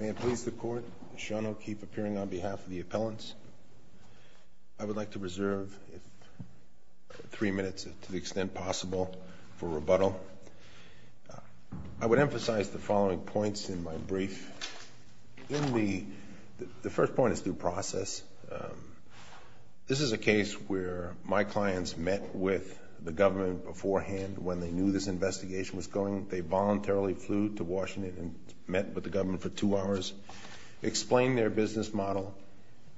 May it please the Court, Sean O'Keefe appearing on behalf of the appellants. I would like to reserve three minutes, to the extent possible, for rebuttal. I would emphasize the following points in my brief. The first point is due process. This is a case where my clients met with the government beforehand when they knew this investigation was going. They voluntarily flew to Washington and met with the government for two hours, explained their business model,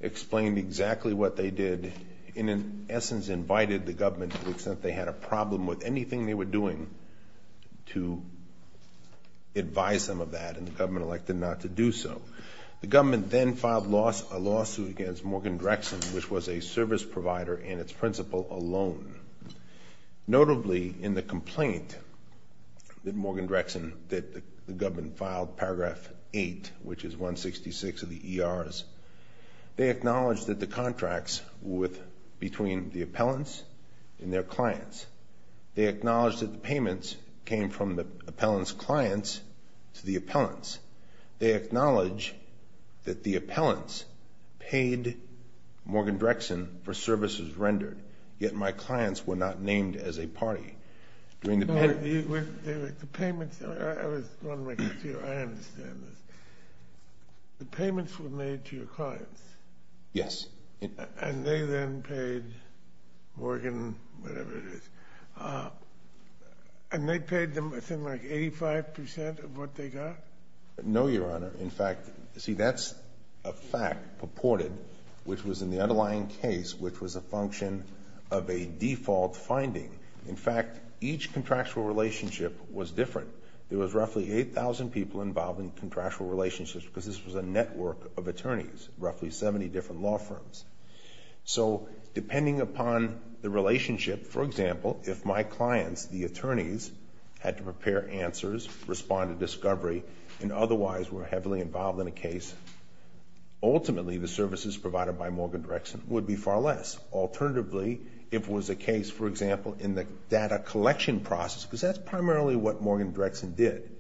explained exactly what they did, and in essence invited the government to the extent they had a problem with anything they were doing to advise them of that, and the government elected not to do so. The government then filed a lawsuit against Morgan Drexen, which was a service provider and its principal alone. Notably, in the complaint that Morgan Drexen, that the government filed, Paragraph 8, which is 166 of the ERs, they acknowledged that the contracts were between the appellants and their clients. They acknowledged that the payments came from the appellants' clients to the appellants. They acknowledged that the appellants paid Morgan Drexen for services rendered, yet my clients were not named as a party. During the... But the payments... I was wondering if you... I understand this. The payments were made to your clients. Yes. And they then paid Morgan, whatever it is. And they paid them, I think, like 85% of what they got? No, Your Honor. In fact, see, that's a fact purported, which was in the underlying case, which was a function of a default finding. In fact, each contractual relationship was different. There was roughly 8,000 people involved in contractual relationships because this was a network of attorneys, roughly 70 different law firms. So depending upon the relationship, for example, if my clients, the attorneys, had to prepare answers, respond to discovery, and otherwise were heavily involved in a case, ultimately the services provided by Morgan Drexen would be far less. Alternatively, if it was a case, for example, in the data collection process, because that's primarily what Morgan Drexen did,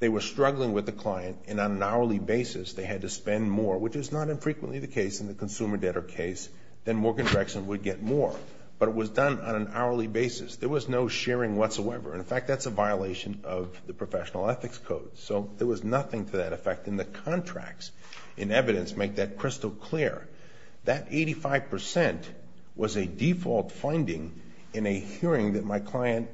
they were struggling with the client, and on an hourly basis they had to spend more, which is not infrequently the case in the consumer debtor case, then Morgan Drexen would get more. But it was done on an hourly basis. There was no sharing whatsoever. In fact, that's a violation of the professional ethics code. So there was nothing to that effect. And the contracts in evidence make that crystal clear. That 85% was a default finding in a hearing that my client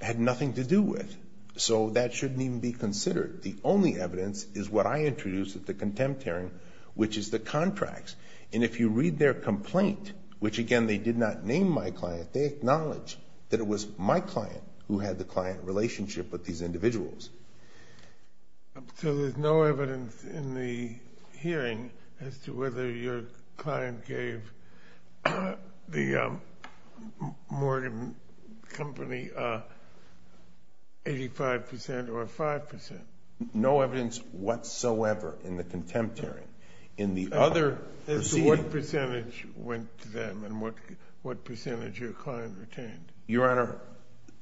had nothing to do with. So that shouldn't even be considered. The only evidence is what I introduced at the contempt hearing, which is the contracts. And if you read their complaint, which again, they did not name my client, they acknowledge that it was my client who had the client relationship with these individuals. So there's no evidence in the hearing as to whether your client gave the Morgan company 85% or 5%? No evidence whatsoever in the contempt hearing. In the other proceedings? As to what percentage went to them and what percentage your client retained? Your Honor,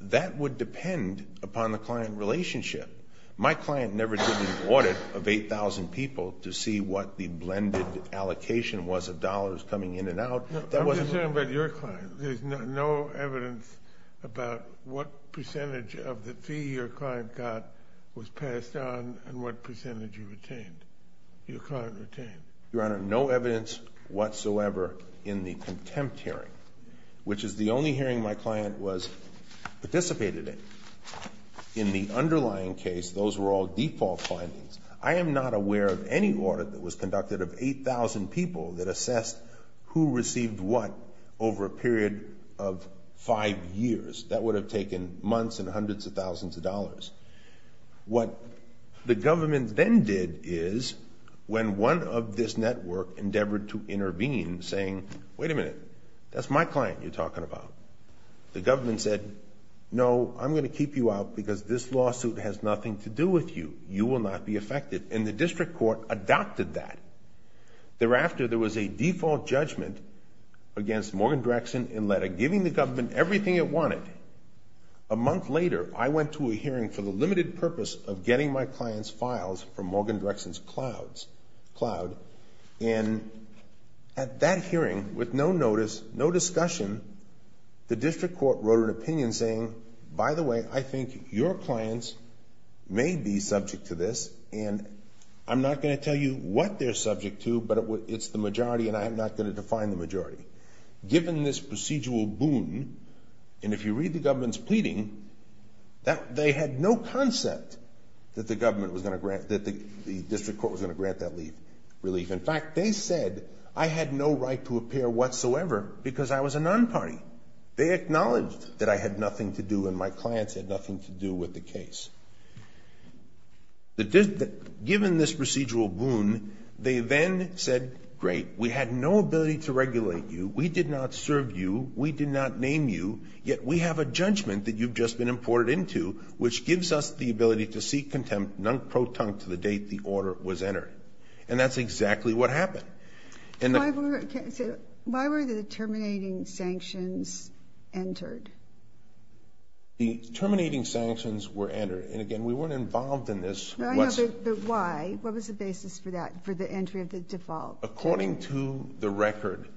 that would depend upon the client relationship. My client never took an audit of 8,000 people to see what the blended allocation was of dollars coming in and out. I'm just talking about your client. There's no evidence about what percentage of the fee your client got was passed on and what percentage you retained, your client retained. Your Honor, no evidence whatsoever in the contempt hearing, which is the only hearing my client participated in. In the underlying case, those were all default findings. I am not aware of any audit that was conducted of 8,000 people that assessed who received what over a period of five years. That would have taken months and hundreds of thousands of dollars. What the government then did is, when one of this network endeavored to intervene, saying, wait a minute, that's my client you're talking about. The government said, no, I'm going to keep you out because this lawsuit has nothing to do with you. You will not be affected. And the district court adopted that. Thereafter, there was a default judgment against Morgan-Drexen in letter, giving the government everything it wanted. A month later, I went to a hearing for the limited purpose of getting my client's files from Morgan-Drexen's cloud. And at that hearing, with no notice, no discussion, the district court wrote an opinion saying, by the way, I think your clients may be subject to this, and I'm not going to tell you what they're subject to, but it's the majority, and I'm not going to define the majority. Given this procedural boon, and if you read the government's pleading, they had no concept that the government was going to grant, that the district court was going to grant that relief. In fact, they said I had no right to appear whatsoever because I was a non-party. They acknowledged that I had nothing to do and my clients had nothing to do with the case. Given this procedural boon, they then said, great, we had no ability to regulate you, we did not serve you, we did not name you, yet we have a judgment that you've just been to seek contempt, non-proton, to the date the order was entered. And that's exactly what happened. Why were the terminating sanctions entered? The terminating sanctions were entered, and again, we weren't involved in this. But why? What was the basis for that, for the entry of the default? According to the record,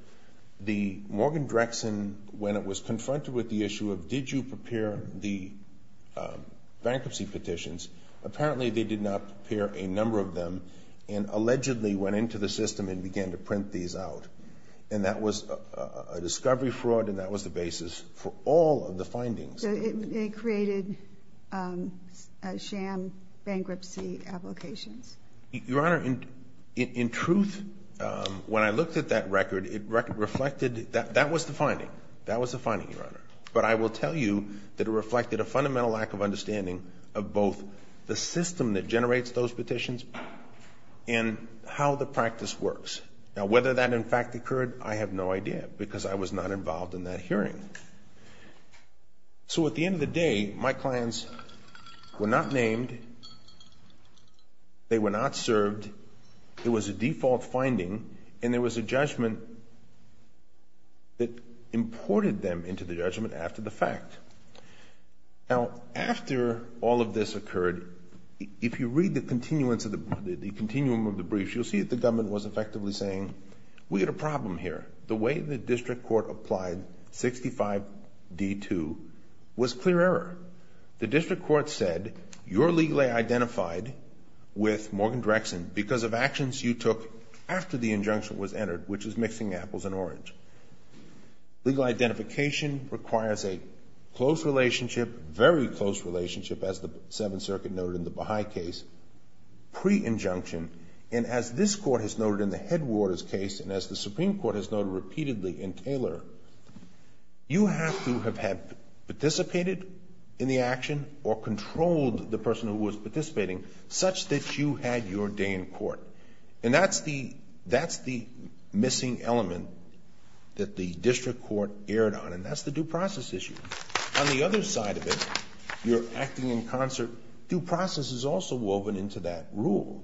the Morgan-Drexen, when it was confronted with the issue of did you prepare the bankruptcy petitions, apparently they did not prepare a number of them and allegedly went into the system and began to print these out. And that was a discovery fraud and that was the basis for all of the findings. So it created sham bankruptcy applications? Your Honor, in truth, when I looked at that record, it reflected that that was the finding. That was the finding, Your Honor. But I will tell you that it reflected a fundamental lack of understanding of both the system that generates those petitions and how the practice works. Now, whether that, in fact, occurred, I have no idea because I was not involved in that hearing. So at the end of the day, my clients were not named, they were not served, it was a Now, after all of this occurred, if you read the continuance of the, the continuum of the briefs, you'll see that the government was effectively saying, we had a problem here. The way the district court applied 65D2 was clear error. The district court said, you're legally identified with Morgan-Drexen because of actions you took after the injunction was entered, which is mixing apples and orange. Legal identification requires a close relationship, very close relationship, as the Seventh Circuit noted in the Baha'i case, pre-injunction. And as this court has noted in the Headwaters case, and as the Supreme Court has noted repeatedly in Taylor, you have to have had participated in the action, or controlled the person who was participating, such that you had your day in court. And that's the, that's the missing element that the district court erred on, and that's the due process issue. On the other side of it, you're acting in concert, due process is also woven into that rule.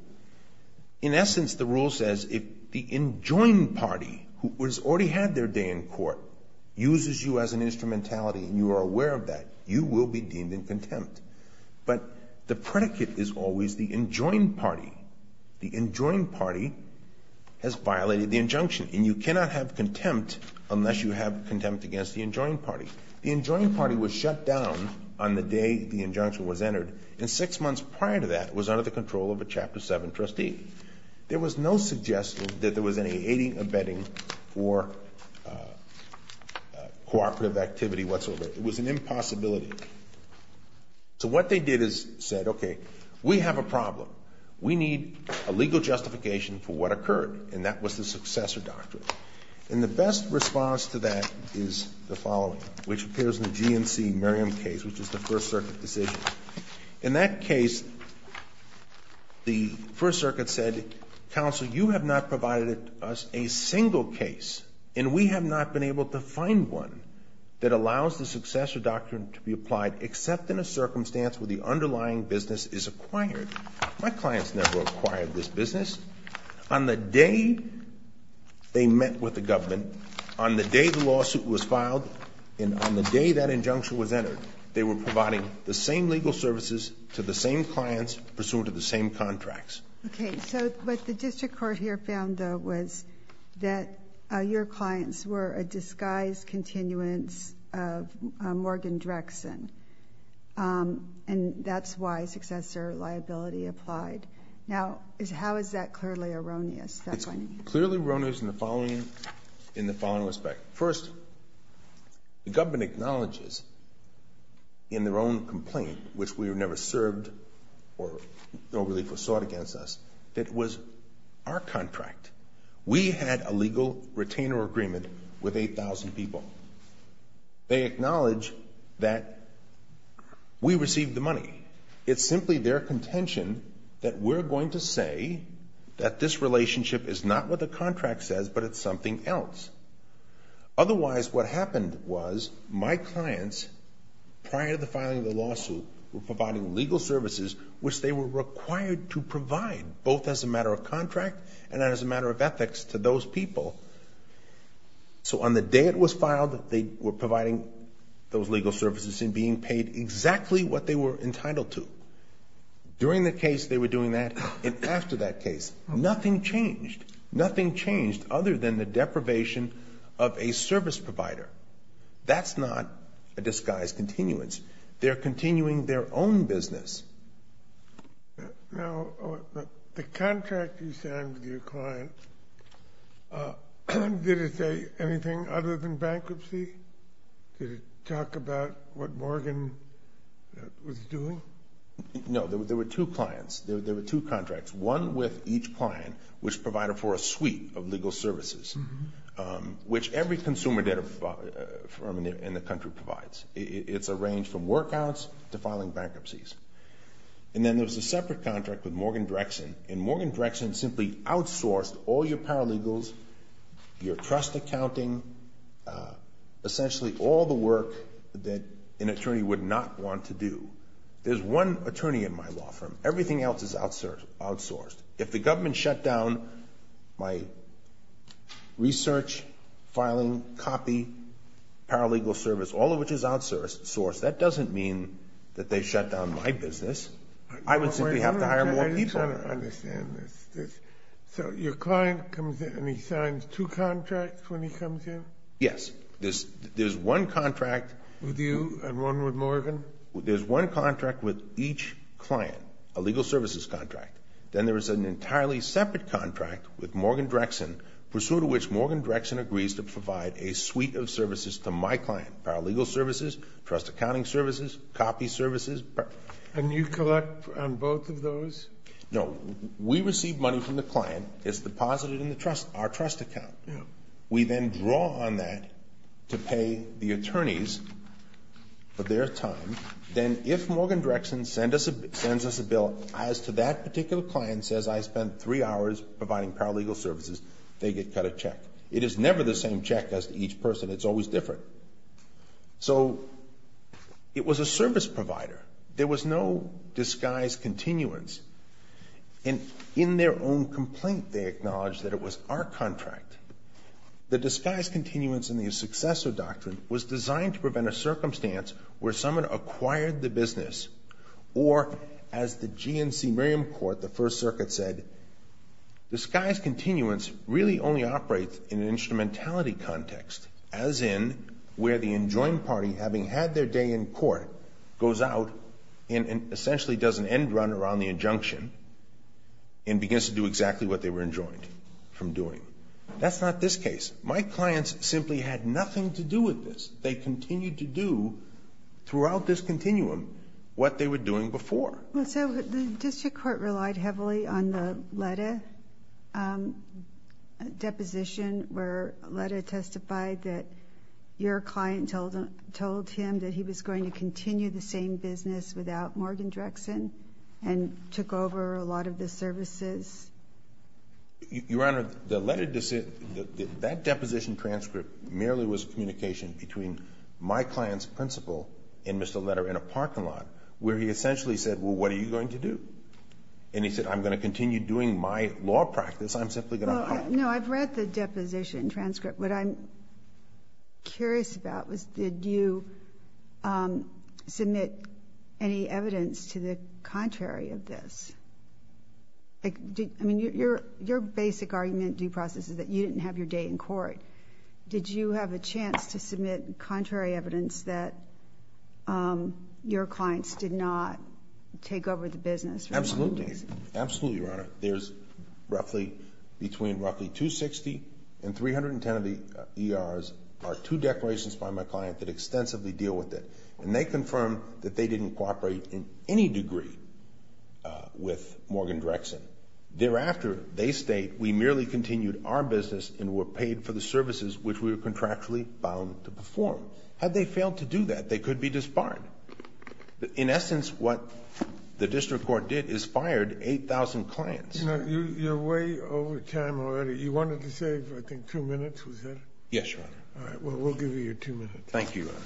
In essence, the rule says, if the enjoined party, who has already had their day in court, uses you as an instrumentality, and you are aware of that, you will be deemed in contempt. But the predicate is always the enjoined party. The enjoined party has violated the injunction, and you cannot have contempt unless you have contempt against the enjoined party. The enjoined party was shut down on the day the injunction was entered, and six months prior to that, it was under the control of a Chapter 7 trustee. There was no suggestion that there was any aiding or abetting for cooperative activity whatsoever. It was an impossibility. So what they did is said, okay, we have a problem. We need a legal justification for what occurred, and that was the successor doctrine. And the best response to that is the following, which appears in the GNC-Miriam case, which is the First Circuit decision. In that case, the First Circuit said, counsel, you have not provided us a single case, and we have not been able to find one that allows the successor doctrine to be applied except in a circumstance where the underlying business is acquired. My clients never acquired this business. On the day they met with the government, on the day the lawsuit was filed, and on the day that injunction was entered, they were providing the same legal services to the same clients pursuant to the same contracts. Okay. So what the district court here found, though, was that your clients were a disguised continuance of Morgan Drexen, and that's why successor liability applied. Now, how is that clearly erroneous, that finding? It's clearly erroneous in the following respect. First, the government acknowledges in their own complaint, which we were never served or no relief was sought against us, that it was our contract. We had a legal retainer agreement with 8,000 people. They acknowledge that we received the money. It's simply their contention that we're going to say that this relationship is not what the contract says, but it's something else. Otherwise, what happened was my clients, prior to the filing of the lawsuit, were providing legal services which they were required to provide, both as a matter of contract and as a matter of ethics to those people. So on the day it was filed, they were providing those legal services and being paid exactly what they were entitled to. During the case, they were doing that, and after that case, nothing changed. Nothing changed other than the deprivation of a service provider. That's not a disguised continuance. They're continuing their own business. Now, the contract you signed with your clients, did it say anything other than bankruptcy? Did it talk about what Morgan was doing? No. There were two clients. There were two contracts, one with each client, which provided for a suite of legal services, which every consumer debt firm in the country provides. It's a range from workouts to filing bankruptcies. And then there was a separate contract with Morgan Drexen, and Morgan Drexen simply outsourced all your paralegals, your trust accounting, essentially all the work that an attorney would not want to do. There's one attorney in my law firm. Everything else is outsourced. If the government shut down my research, filing, copy, paralegal service, all of which is outsourced, that doesn't mean that they shut down my business. I would simply have to hire more people. I just don't understand this. So your client comes in and he signs two contracts when he comes in? Yes. There's one contract. With you and one with Morgan? There's one contract with each client, a legal services contract. Then there is an entirely separate contract with Morgan Drexen, pursuant to which Morgan Drexen agrees to provide a suite of services to my client. Paralegal services, trust accounting services, copy services. And you collect on both of those? No. We receive money from the client. It's deposited in the trust, our trust account. We then draw on that to pay the attorneys for their time. Then if Morgan Drexen sends us a bill as to that particular client says I spent three hours providing paralegal services, they get cut a check. It is never the same check as to each person. It's always different. So it was a service provider. There was no disguise continuance. In their own complaint, they acknowledged that it was our contract. The disguise continuance in the successor doctrine was designed to prevent a circumstance where someone acquired the business or, as the GNC Miriam Court, the First Circuit said, disguise continuance really only operates in an instrumentality context, as in where the enjoined party, having had their day in court, goes out and essentially does an end run around the injunction and begins to do exactly what they were enjoined from doing. That's not this case. My clients simply had nothing to do with this. They continued to do, throughout this continuum, what they were doing before. So the district court relied heavily on the Letta deposition where Letta testified that your client told him that he was going to continue the same business without Morgan Drexen and took over a lot of the services? Your Honor, the Letta decision, that deposition transcript merely was communication between my client's principal and Mr. Letta in a parking lot where he essentially said, well, what are you going to do? And he said, I'm going to continue doing my law practice. I'm simply going to help. Well, no, I've read the deposition transcript. What I'm curious about was did you submit any evidence to the contrary of this? I mean, your basic argument, due process, is that you didn't have your day in court. Did you have a chance to submit contrary evidence that your clients did not take over the business for a long period of time? Absolutely. Absolutely, Your Honor. There's roughly, between roughly 260 and 310 of the ERs are two declarations by my client that extensively deal with it. And they confirm that they didn't cooperate in any degree with Morgan Drexen. Thereafter, they state, we merely continued our business and were paid for the services which we were contractually bound to perform. Had they failed to do that, they could be disbarred. In essence, what the district court did is fired 8,000 clients. You know, you're way over time already. You wanted to save, I think, two minutes, was that it? Yes, Your Honor. All right. Well, we'll give you your two minutes. Thank you, Your Honor.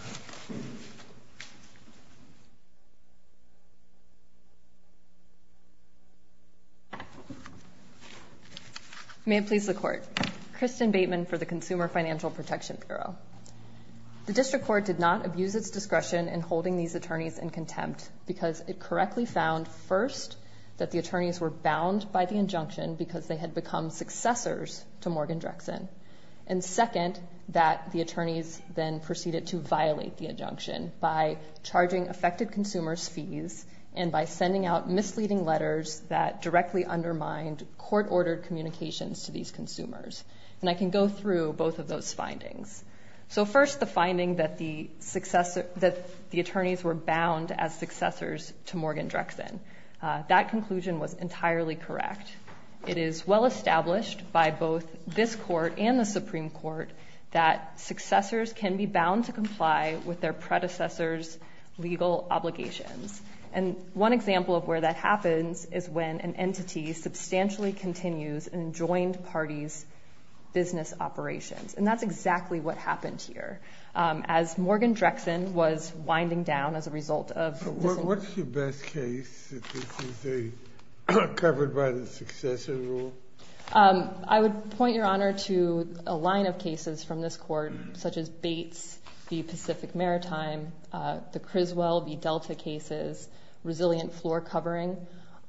May it please the Court. Kristin Bateman for the Consumer Financial Protection Bureau. The district court did not abuse its discretion in holding these attorneys in contempt because it correctly found first that the attorneys were bound by the injunction because they had become successors to Morgan Drexen. And second, that the attorneys then proceeded to violate the injunction by charging affected consumers fees and by sending out misleading letters that directly undermined court-ordered communications to these consumers. And I can go through both of those findings. So first, the finding that the attorneys were bound as successors to Morgan Drexen. That conclusion was entirely correct. It is well-established by both this Court and the Supreme Court that successors can be bound to comply with their predecessors' legal obligations. And one example of where that happens is when an entity substantially continues an enjoined party's business operations. And that's exactly what happened here. As Morgan Drexen was winding down as a result of this... So what's your best case that this is covered by the successor rule? I would point, Your Honor, to a line of cases from this Court, such as Bates v. Pacific Maritime, the Criswell v. Delta cases, resilient floor covering.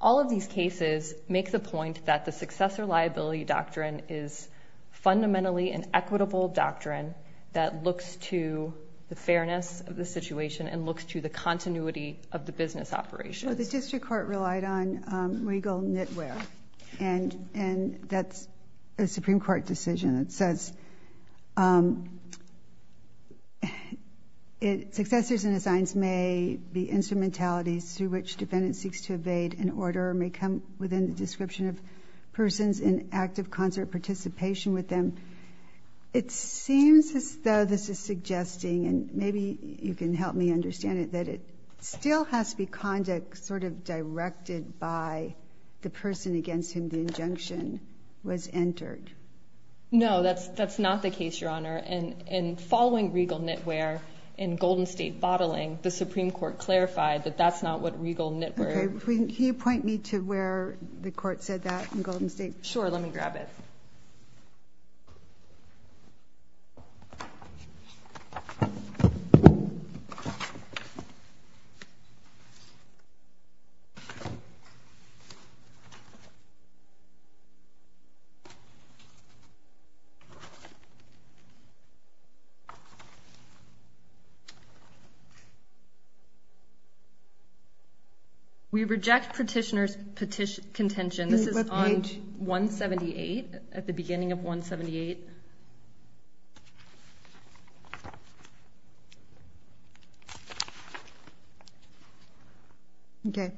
All of these cases make the point that the successor liability doctrine is fundamentally an equitable doctrine that looks to the fairness of the situation and looks to the continuity of the business operations. Well, the district court relied on legal knitwear. And that's a Supreme Court decision that says successors and assigns may be instrumentalities through which defendants seek to evade an order or may come within the description of persons in active concert participation with them. It seems as though this is suggesting, and maybe you can help me understand it, that it still has to be conduct sort of directed by the person against whom the injunction was entered. No, that's not the case, Your Honor. In following legal knitwear in Golden State bottling, the Supreme Court clarified that that's not what legal knitwear... Okay, can you point me to where the Court said that in Golden State? Sure, let me grab it. Thank you. We reject petitioner's contention. This is on page 178. At the beginning of 178. Okay.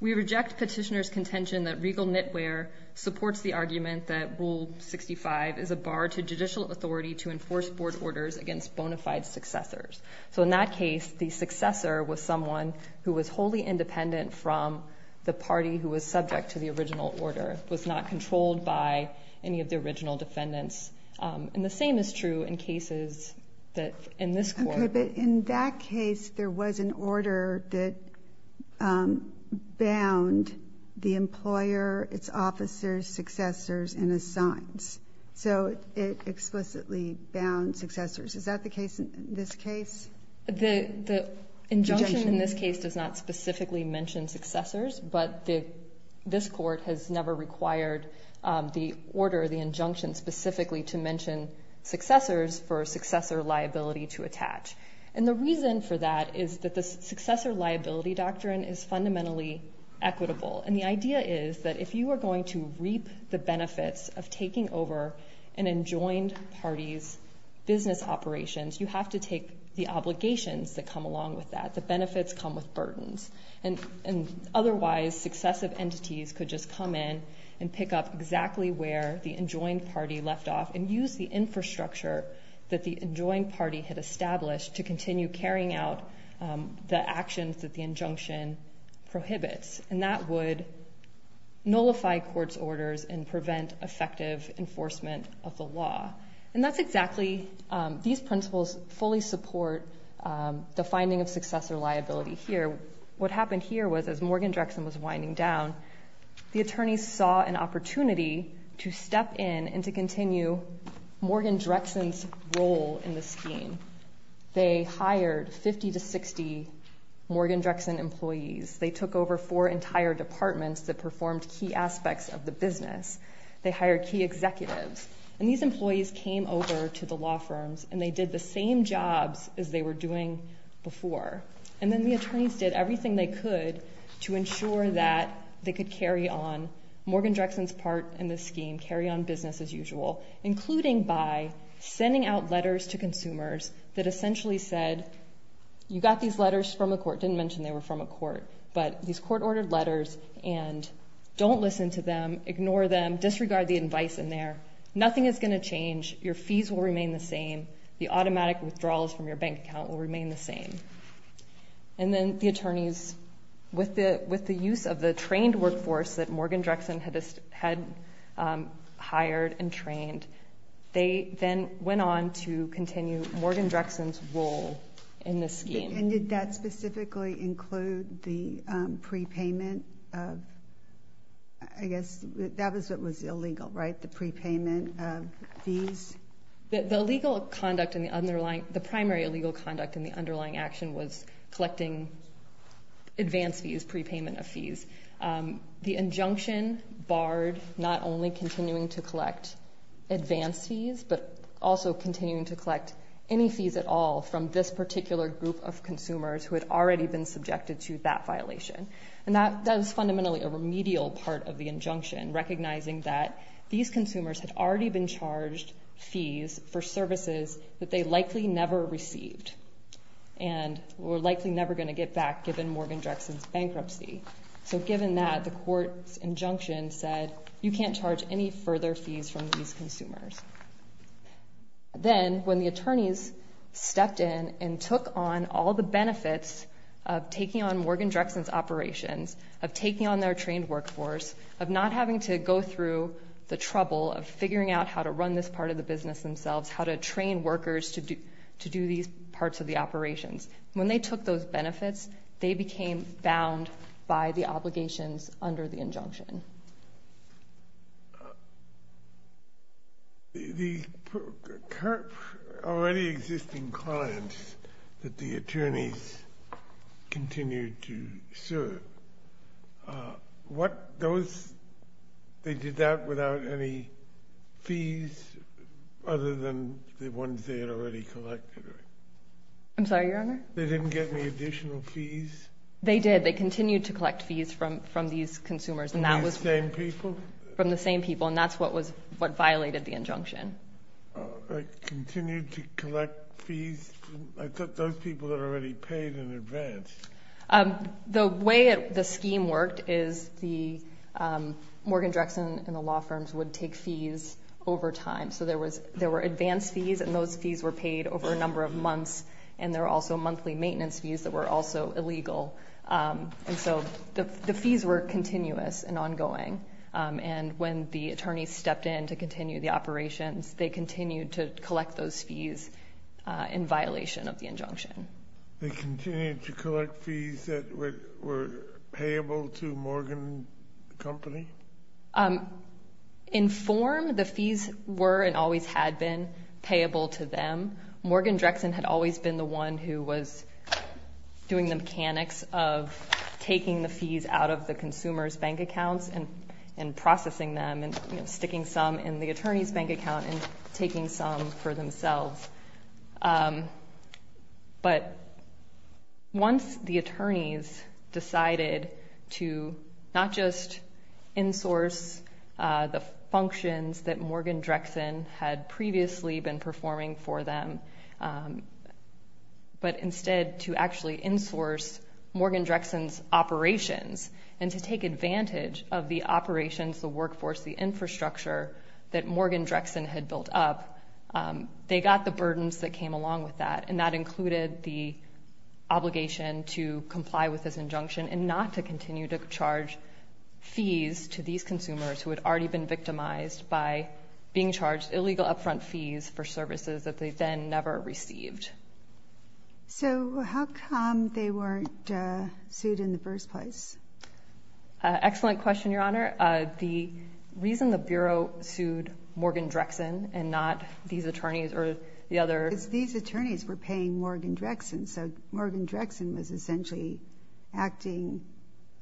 We reject petitioner's contention that legal knitwear supports the argument that Rule 65 is a bar to judicial authority to enforce board orders against bona fide successors. So in that case, the successor was someone who was wholly independent from the party who was subject to the original order, was not controlled by any of the original defendants. And the same is true in cases that in this court... Okay, but in that case, there was an order that bound the employer, its officers, successors, and his signs. So it explicitly bound successors. Is that the case in this case? The injunction in this case does not specifically mention successors, but this court has never required the order, the injunction specifically to mention successors for successor liability to attach. And the reason for that is that the successor liability doctrine is fundamentally equitable. And the idea is that if you are going to reap the benefits of taking over an enjoined party's business operations, you have to take the obligations that come along with that. The benefits come with burdens. And otherwise, successive entities could just come in and pick up exactly where the enjoined party left off and use the infrastructure that the enjoined party had established to continue carrying out the actions that the injunction prohibits. And that would nullify court's orders and prevent effective enforcement of the law. And that's exactly, these principles fully support the finding of successor liability here. What happened here was as Morgan Drexen was winding down, the attorneys saw an opportunity to step in and to continue Morgan Drexen's role in the scheme. They hired 50 to 60 Morgan Drexen employees. They took over four entire departments that performed key aspects of the business. They hired key executives. And these employees came over to the law firms and they did the same jobs as they were doing before. And then the attorneys did everything they could to ensure that they could carry on Morgan Drexen's part in the scheme, carry on business as usual, including by sending out letters to consumers that essentially said, you got these letters from a court, didn't mention they were from a court, but these court ordered letters and don't listen to them, ignore them, disregard the advice in there. Nothing is going to change. Your fees will remain the same. The automatic withdrawals from your bank account will remain the same. And then the attorneys, with the use of the trained workforce that Morgan Drexen had hired and trained, they then went on to continue Morgan Drexen's role in the scheme. And did that specifically include the prepayment of, I guess, that was what was illegal, right? The prepayment of fees? The legal conduct and the underlying, the primary legal conduct and the underlying action was collecting advance fees, prepayment of fees. The injunction barred not only continuing to collect advance fees, but also continuing to collect any fees at all from this particular group of consumers who had already been subjected to that violation. And that was fundamentally a remedial part of the injunction, recognizing that these consumers had already been charged fees for services that they likely never received and were likely never going to get back given Morgan Drexen's bankruptcy. So given that, the court's injunction said, you can't charge any further fees from these consumers. Then, when the attorneys stepped in and took on all the benefits of taking on Morgan Drexen's operations, of taking on their trained workforce, of not having to go through the trouble of figuring out how to run this part of the business themselves, how to train workers to do these parts of the operations. When they took those benefits, they became bound by the obligations under the injunction. The already existing clients that the attorneys continued to serve, they did that without any fees other than the ones they had already collected? I'm sorry, Your Honor? They didn't get any additional fees? They did. They continued to collect fees from these consumers. From the same people? From the same people. And that's what violated the injunction. Continued to collect fees? I thought those people had already paid in advance. The way the scheme worked is the Morgan Drexen and the law firms would take fees over time. So there were advance fees, and those fees were paid over a number of months. And there were also monthly maintenance fees that were also illegal. And so the fees were continuous and ongoing. And when the attorneys stepped in to continue the operations, they continued to collect those fees in violation of the injunction. They continued to collect fees that were payable to Morgan Company? In form, the fees were and always had been payable to them. Morgan Drexen had always been the one who was doing the mechanics of taking the fees out of the consumer's bank accounts and processing them and sticking some in the attorney's bank account and taking some for themselves. But once the attorneys decided to not just insource the functions that Morgan Drexen had previously been performing for them, but instead to actually insource Morgan Drexen's operations and to take advantage of the operations, the workforce, the infrastructure that Morgan Drexen had built up, they got the burdens that came along with that. And that included the obligation to comply with this injunction and not to continue to impose illegal upfront fees for services that they then never received. So how come they weren't sued in the first place? Excellent question, Your Honor. The reason the Bureau sued Morgan Drexen and not these attorneys or the other... Because these attorneys were paying Morgan Drexen. So Morgan Drexen was essentially acting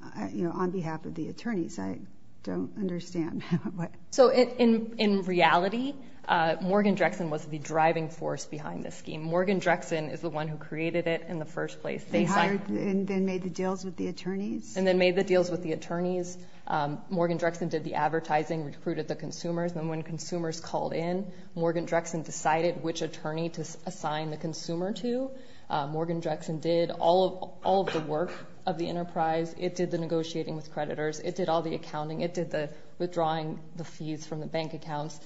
on behalf of the attorneys. I don't understand. So in reality, Morgan Drexen was the driving force behind this scheme. Morgan Drexen is the one who created it in the first place. They hired and then made the deals with the attorneys? And then made the deals with the attorneys. Morgan Drexen did the advertising, recruited the consumers. And when consumers called in, Morgan Drexen decided which attorney to assign the consumer to. Morgan Drexen did all of the work of the enterprise. It did the negotiating with creditors. It did all the accounting. It did the withdrawing the fees from the bank accounts.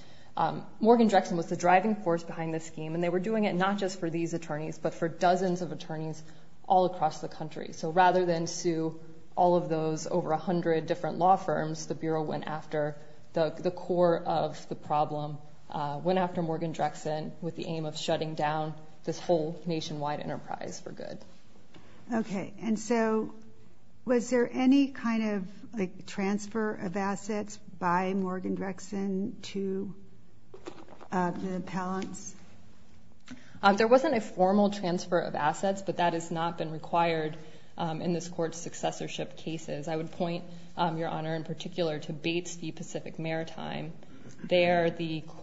Morgan Drexen was the driving force behind this scheme. And they were doing it not just for these attorneys but for dozens of attorneys all across the country. So rather than sue all of those over 100 different law firms, the Bureau went after the core of the problem, went after Morgan Drexen with the aim of shutting down this whole nationwide enterprise for good. Okay. And so was there any kind of transfer of assets by Morgan Drexen to the appellants? There wasn't a formal transfer of assets, but that has not been required in this Court's successorship cases. I would point, Your Honor, in particular to Bates v. Pacific Maritime. There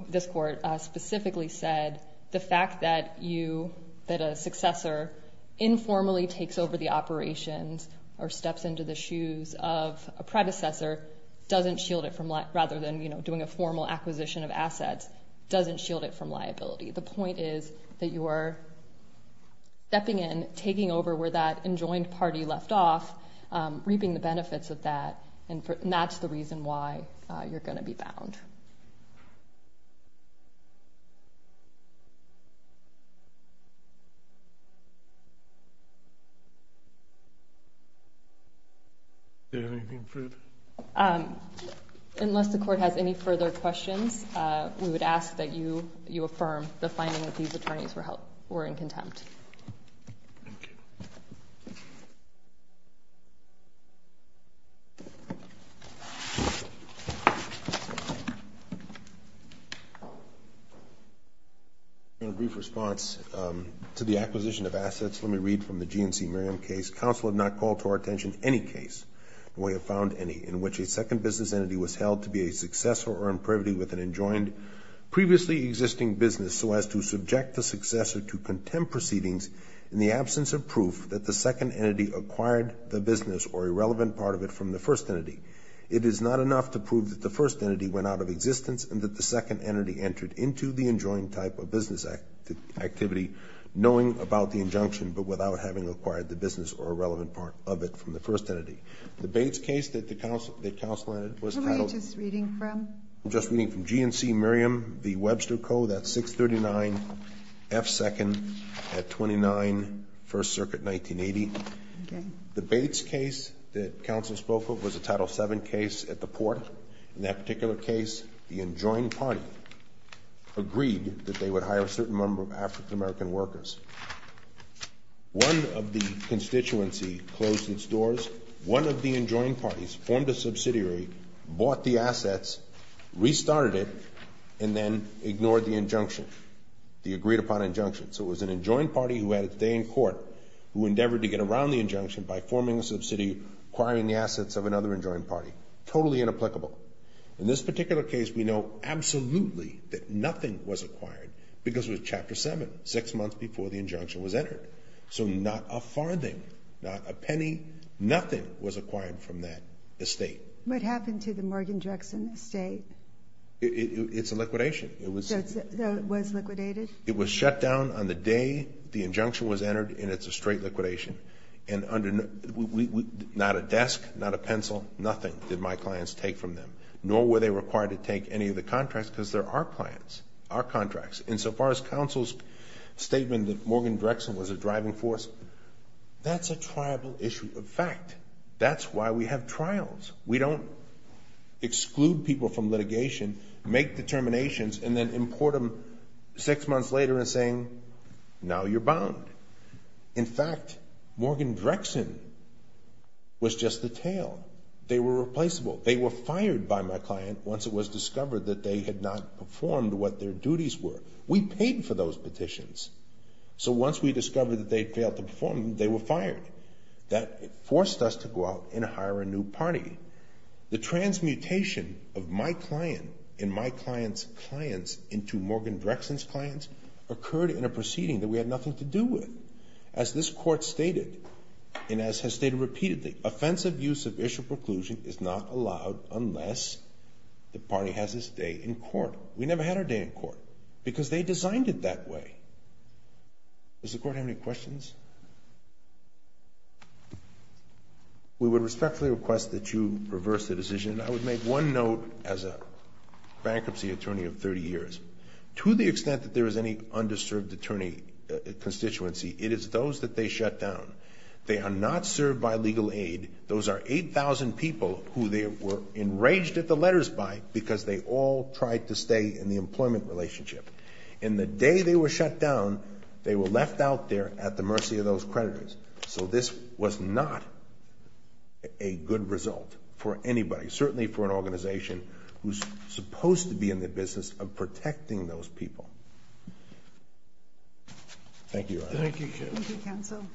this Court specifically said the fact that you, that a successor informally takes over the operations or steps into the shoes of a predecessor doesn't shield it from, rather than doing a formal acquisition of assets, doesn't shield it from liability. The point is that you are stepping in, taking over where that enjoined party left off, reaping the benefits of that, and that's the reason why you're going to be bound. Is there anything further? Unless the Court has any further questions, we would ask that you affirm the finding that these attorneys were in contempt. Thank you. Thank you. In a brief response to the acquisition of assets, let me read from the GNC Maritime case. Counsel had not called to our attention any case, and we have found any, in which a second business entity was held to be a successor or in privity with an enjoined previously existing business so as to subject the successor to contempt proceedings in the absence of proof that the second entity acquired the business or a relevant part of it from the first entity. It is not enough to prove that the first entity went out of existence and that the second entity entered into the enjoined type of business activity, knowing about the injunction, but without having acquired the business or a relevant part of it from the first entity. The Bates case that the counsel, that counsel had was titled Who are you just reading from? I'm just reading from GNC Maritime v. Webster Co. That's 639 F. 2nd at 29 First Circuit, 1980. Okay. The Bates case that counsel spoke of was a Title VII case at the port. In that particular case, the enjoined party agreed that they would hire a certain number of African American workers. One of the constituency closed its doors. One of the enjoined parties formed a subsidiary, bought the assets, restarted it, and then ignored the injunction, the agreed upon injunction. So it was an enjoined party who had a day in court who endeavored to get around the injunction by forming a subsidy, acquiring the assets of another enjoined party. Totally inapplicable. In this particular case, we know absolutely that nothing was acquired because it was Chapter VII, six months before the injunction was entered. So not a farthing, not a penny, nothing was acquired from that estate. What happened to the Morgan Jackson estate? It's a liquidation. So it was liquidated? It was shut down on the day the injunction was entered and it's a straight liquidation. Not a desk, not a pencil, nothing did my clients take from them. Nor were they required to take any of the contracts because they're our plans, our contracts. And so far as counsel's statement that Morgan Jackson was a driving force, that's a tribal issue of fact. That's why we have trials. We don't exclude people from litigation, make determinations, and then import them six months later and saying, now you're bound. In fact, Morgan Jackson was just the tail. They were replaceable. They were fired by my client once it was discovered that they had not performed what their duties were. We paid for those petitions. So once we discovered that they'd failed to perform, they were fired. That forced us to go out and hire a new party. The transmutation of my client and my client's clients into Morgan Jackson's clients occurred in a proceeding that we had nothing to do with. As this court stated, and as has stated repeatedly, offensive use of issue preclusion is not allowed unless the party has its day in court. We never had our day in court because they designed it that way. Does the court have any questions? We would respectfully request that you reverse the decision. I would make one note as a bankruptcy attorney of 30 years. To the extent that there is any underserved attorney constituency, it is those that they shut down. They are not served by legal aid. Those are 8,000 people who they were enraged at the letters by because they all tried to stay in the employment relationship. And the day they were shut down, they were left out there at the mercy of those creditors. So this was not a good result for anybody, certainly for an organization who's supposed to be in the business of protecting those people. Thank you, Your Honor. Thank you, counsel.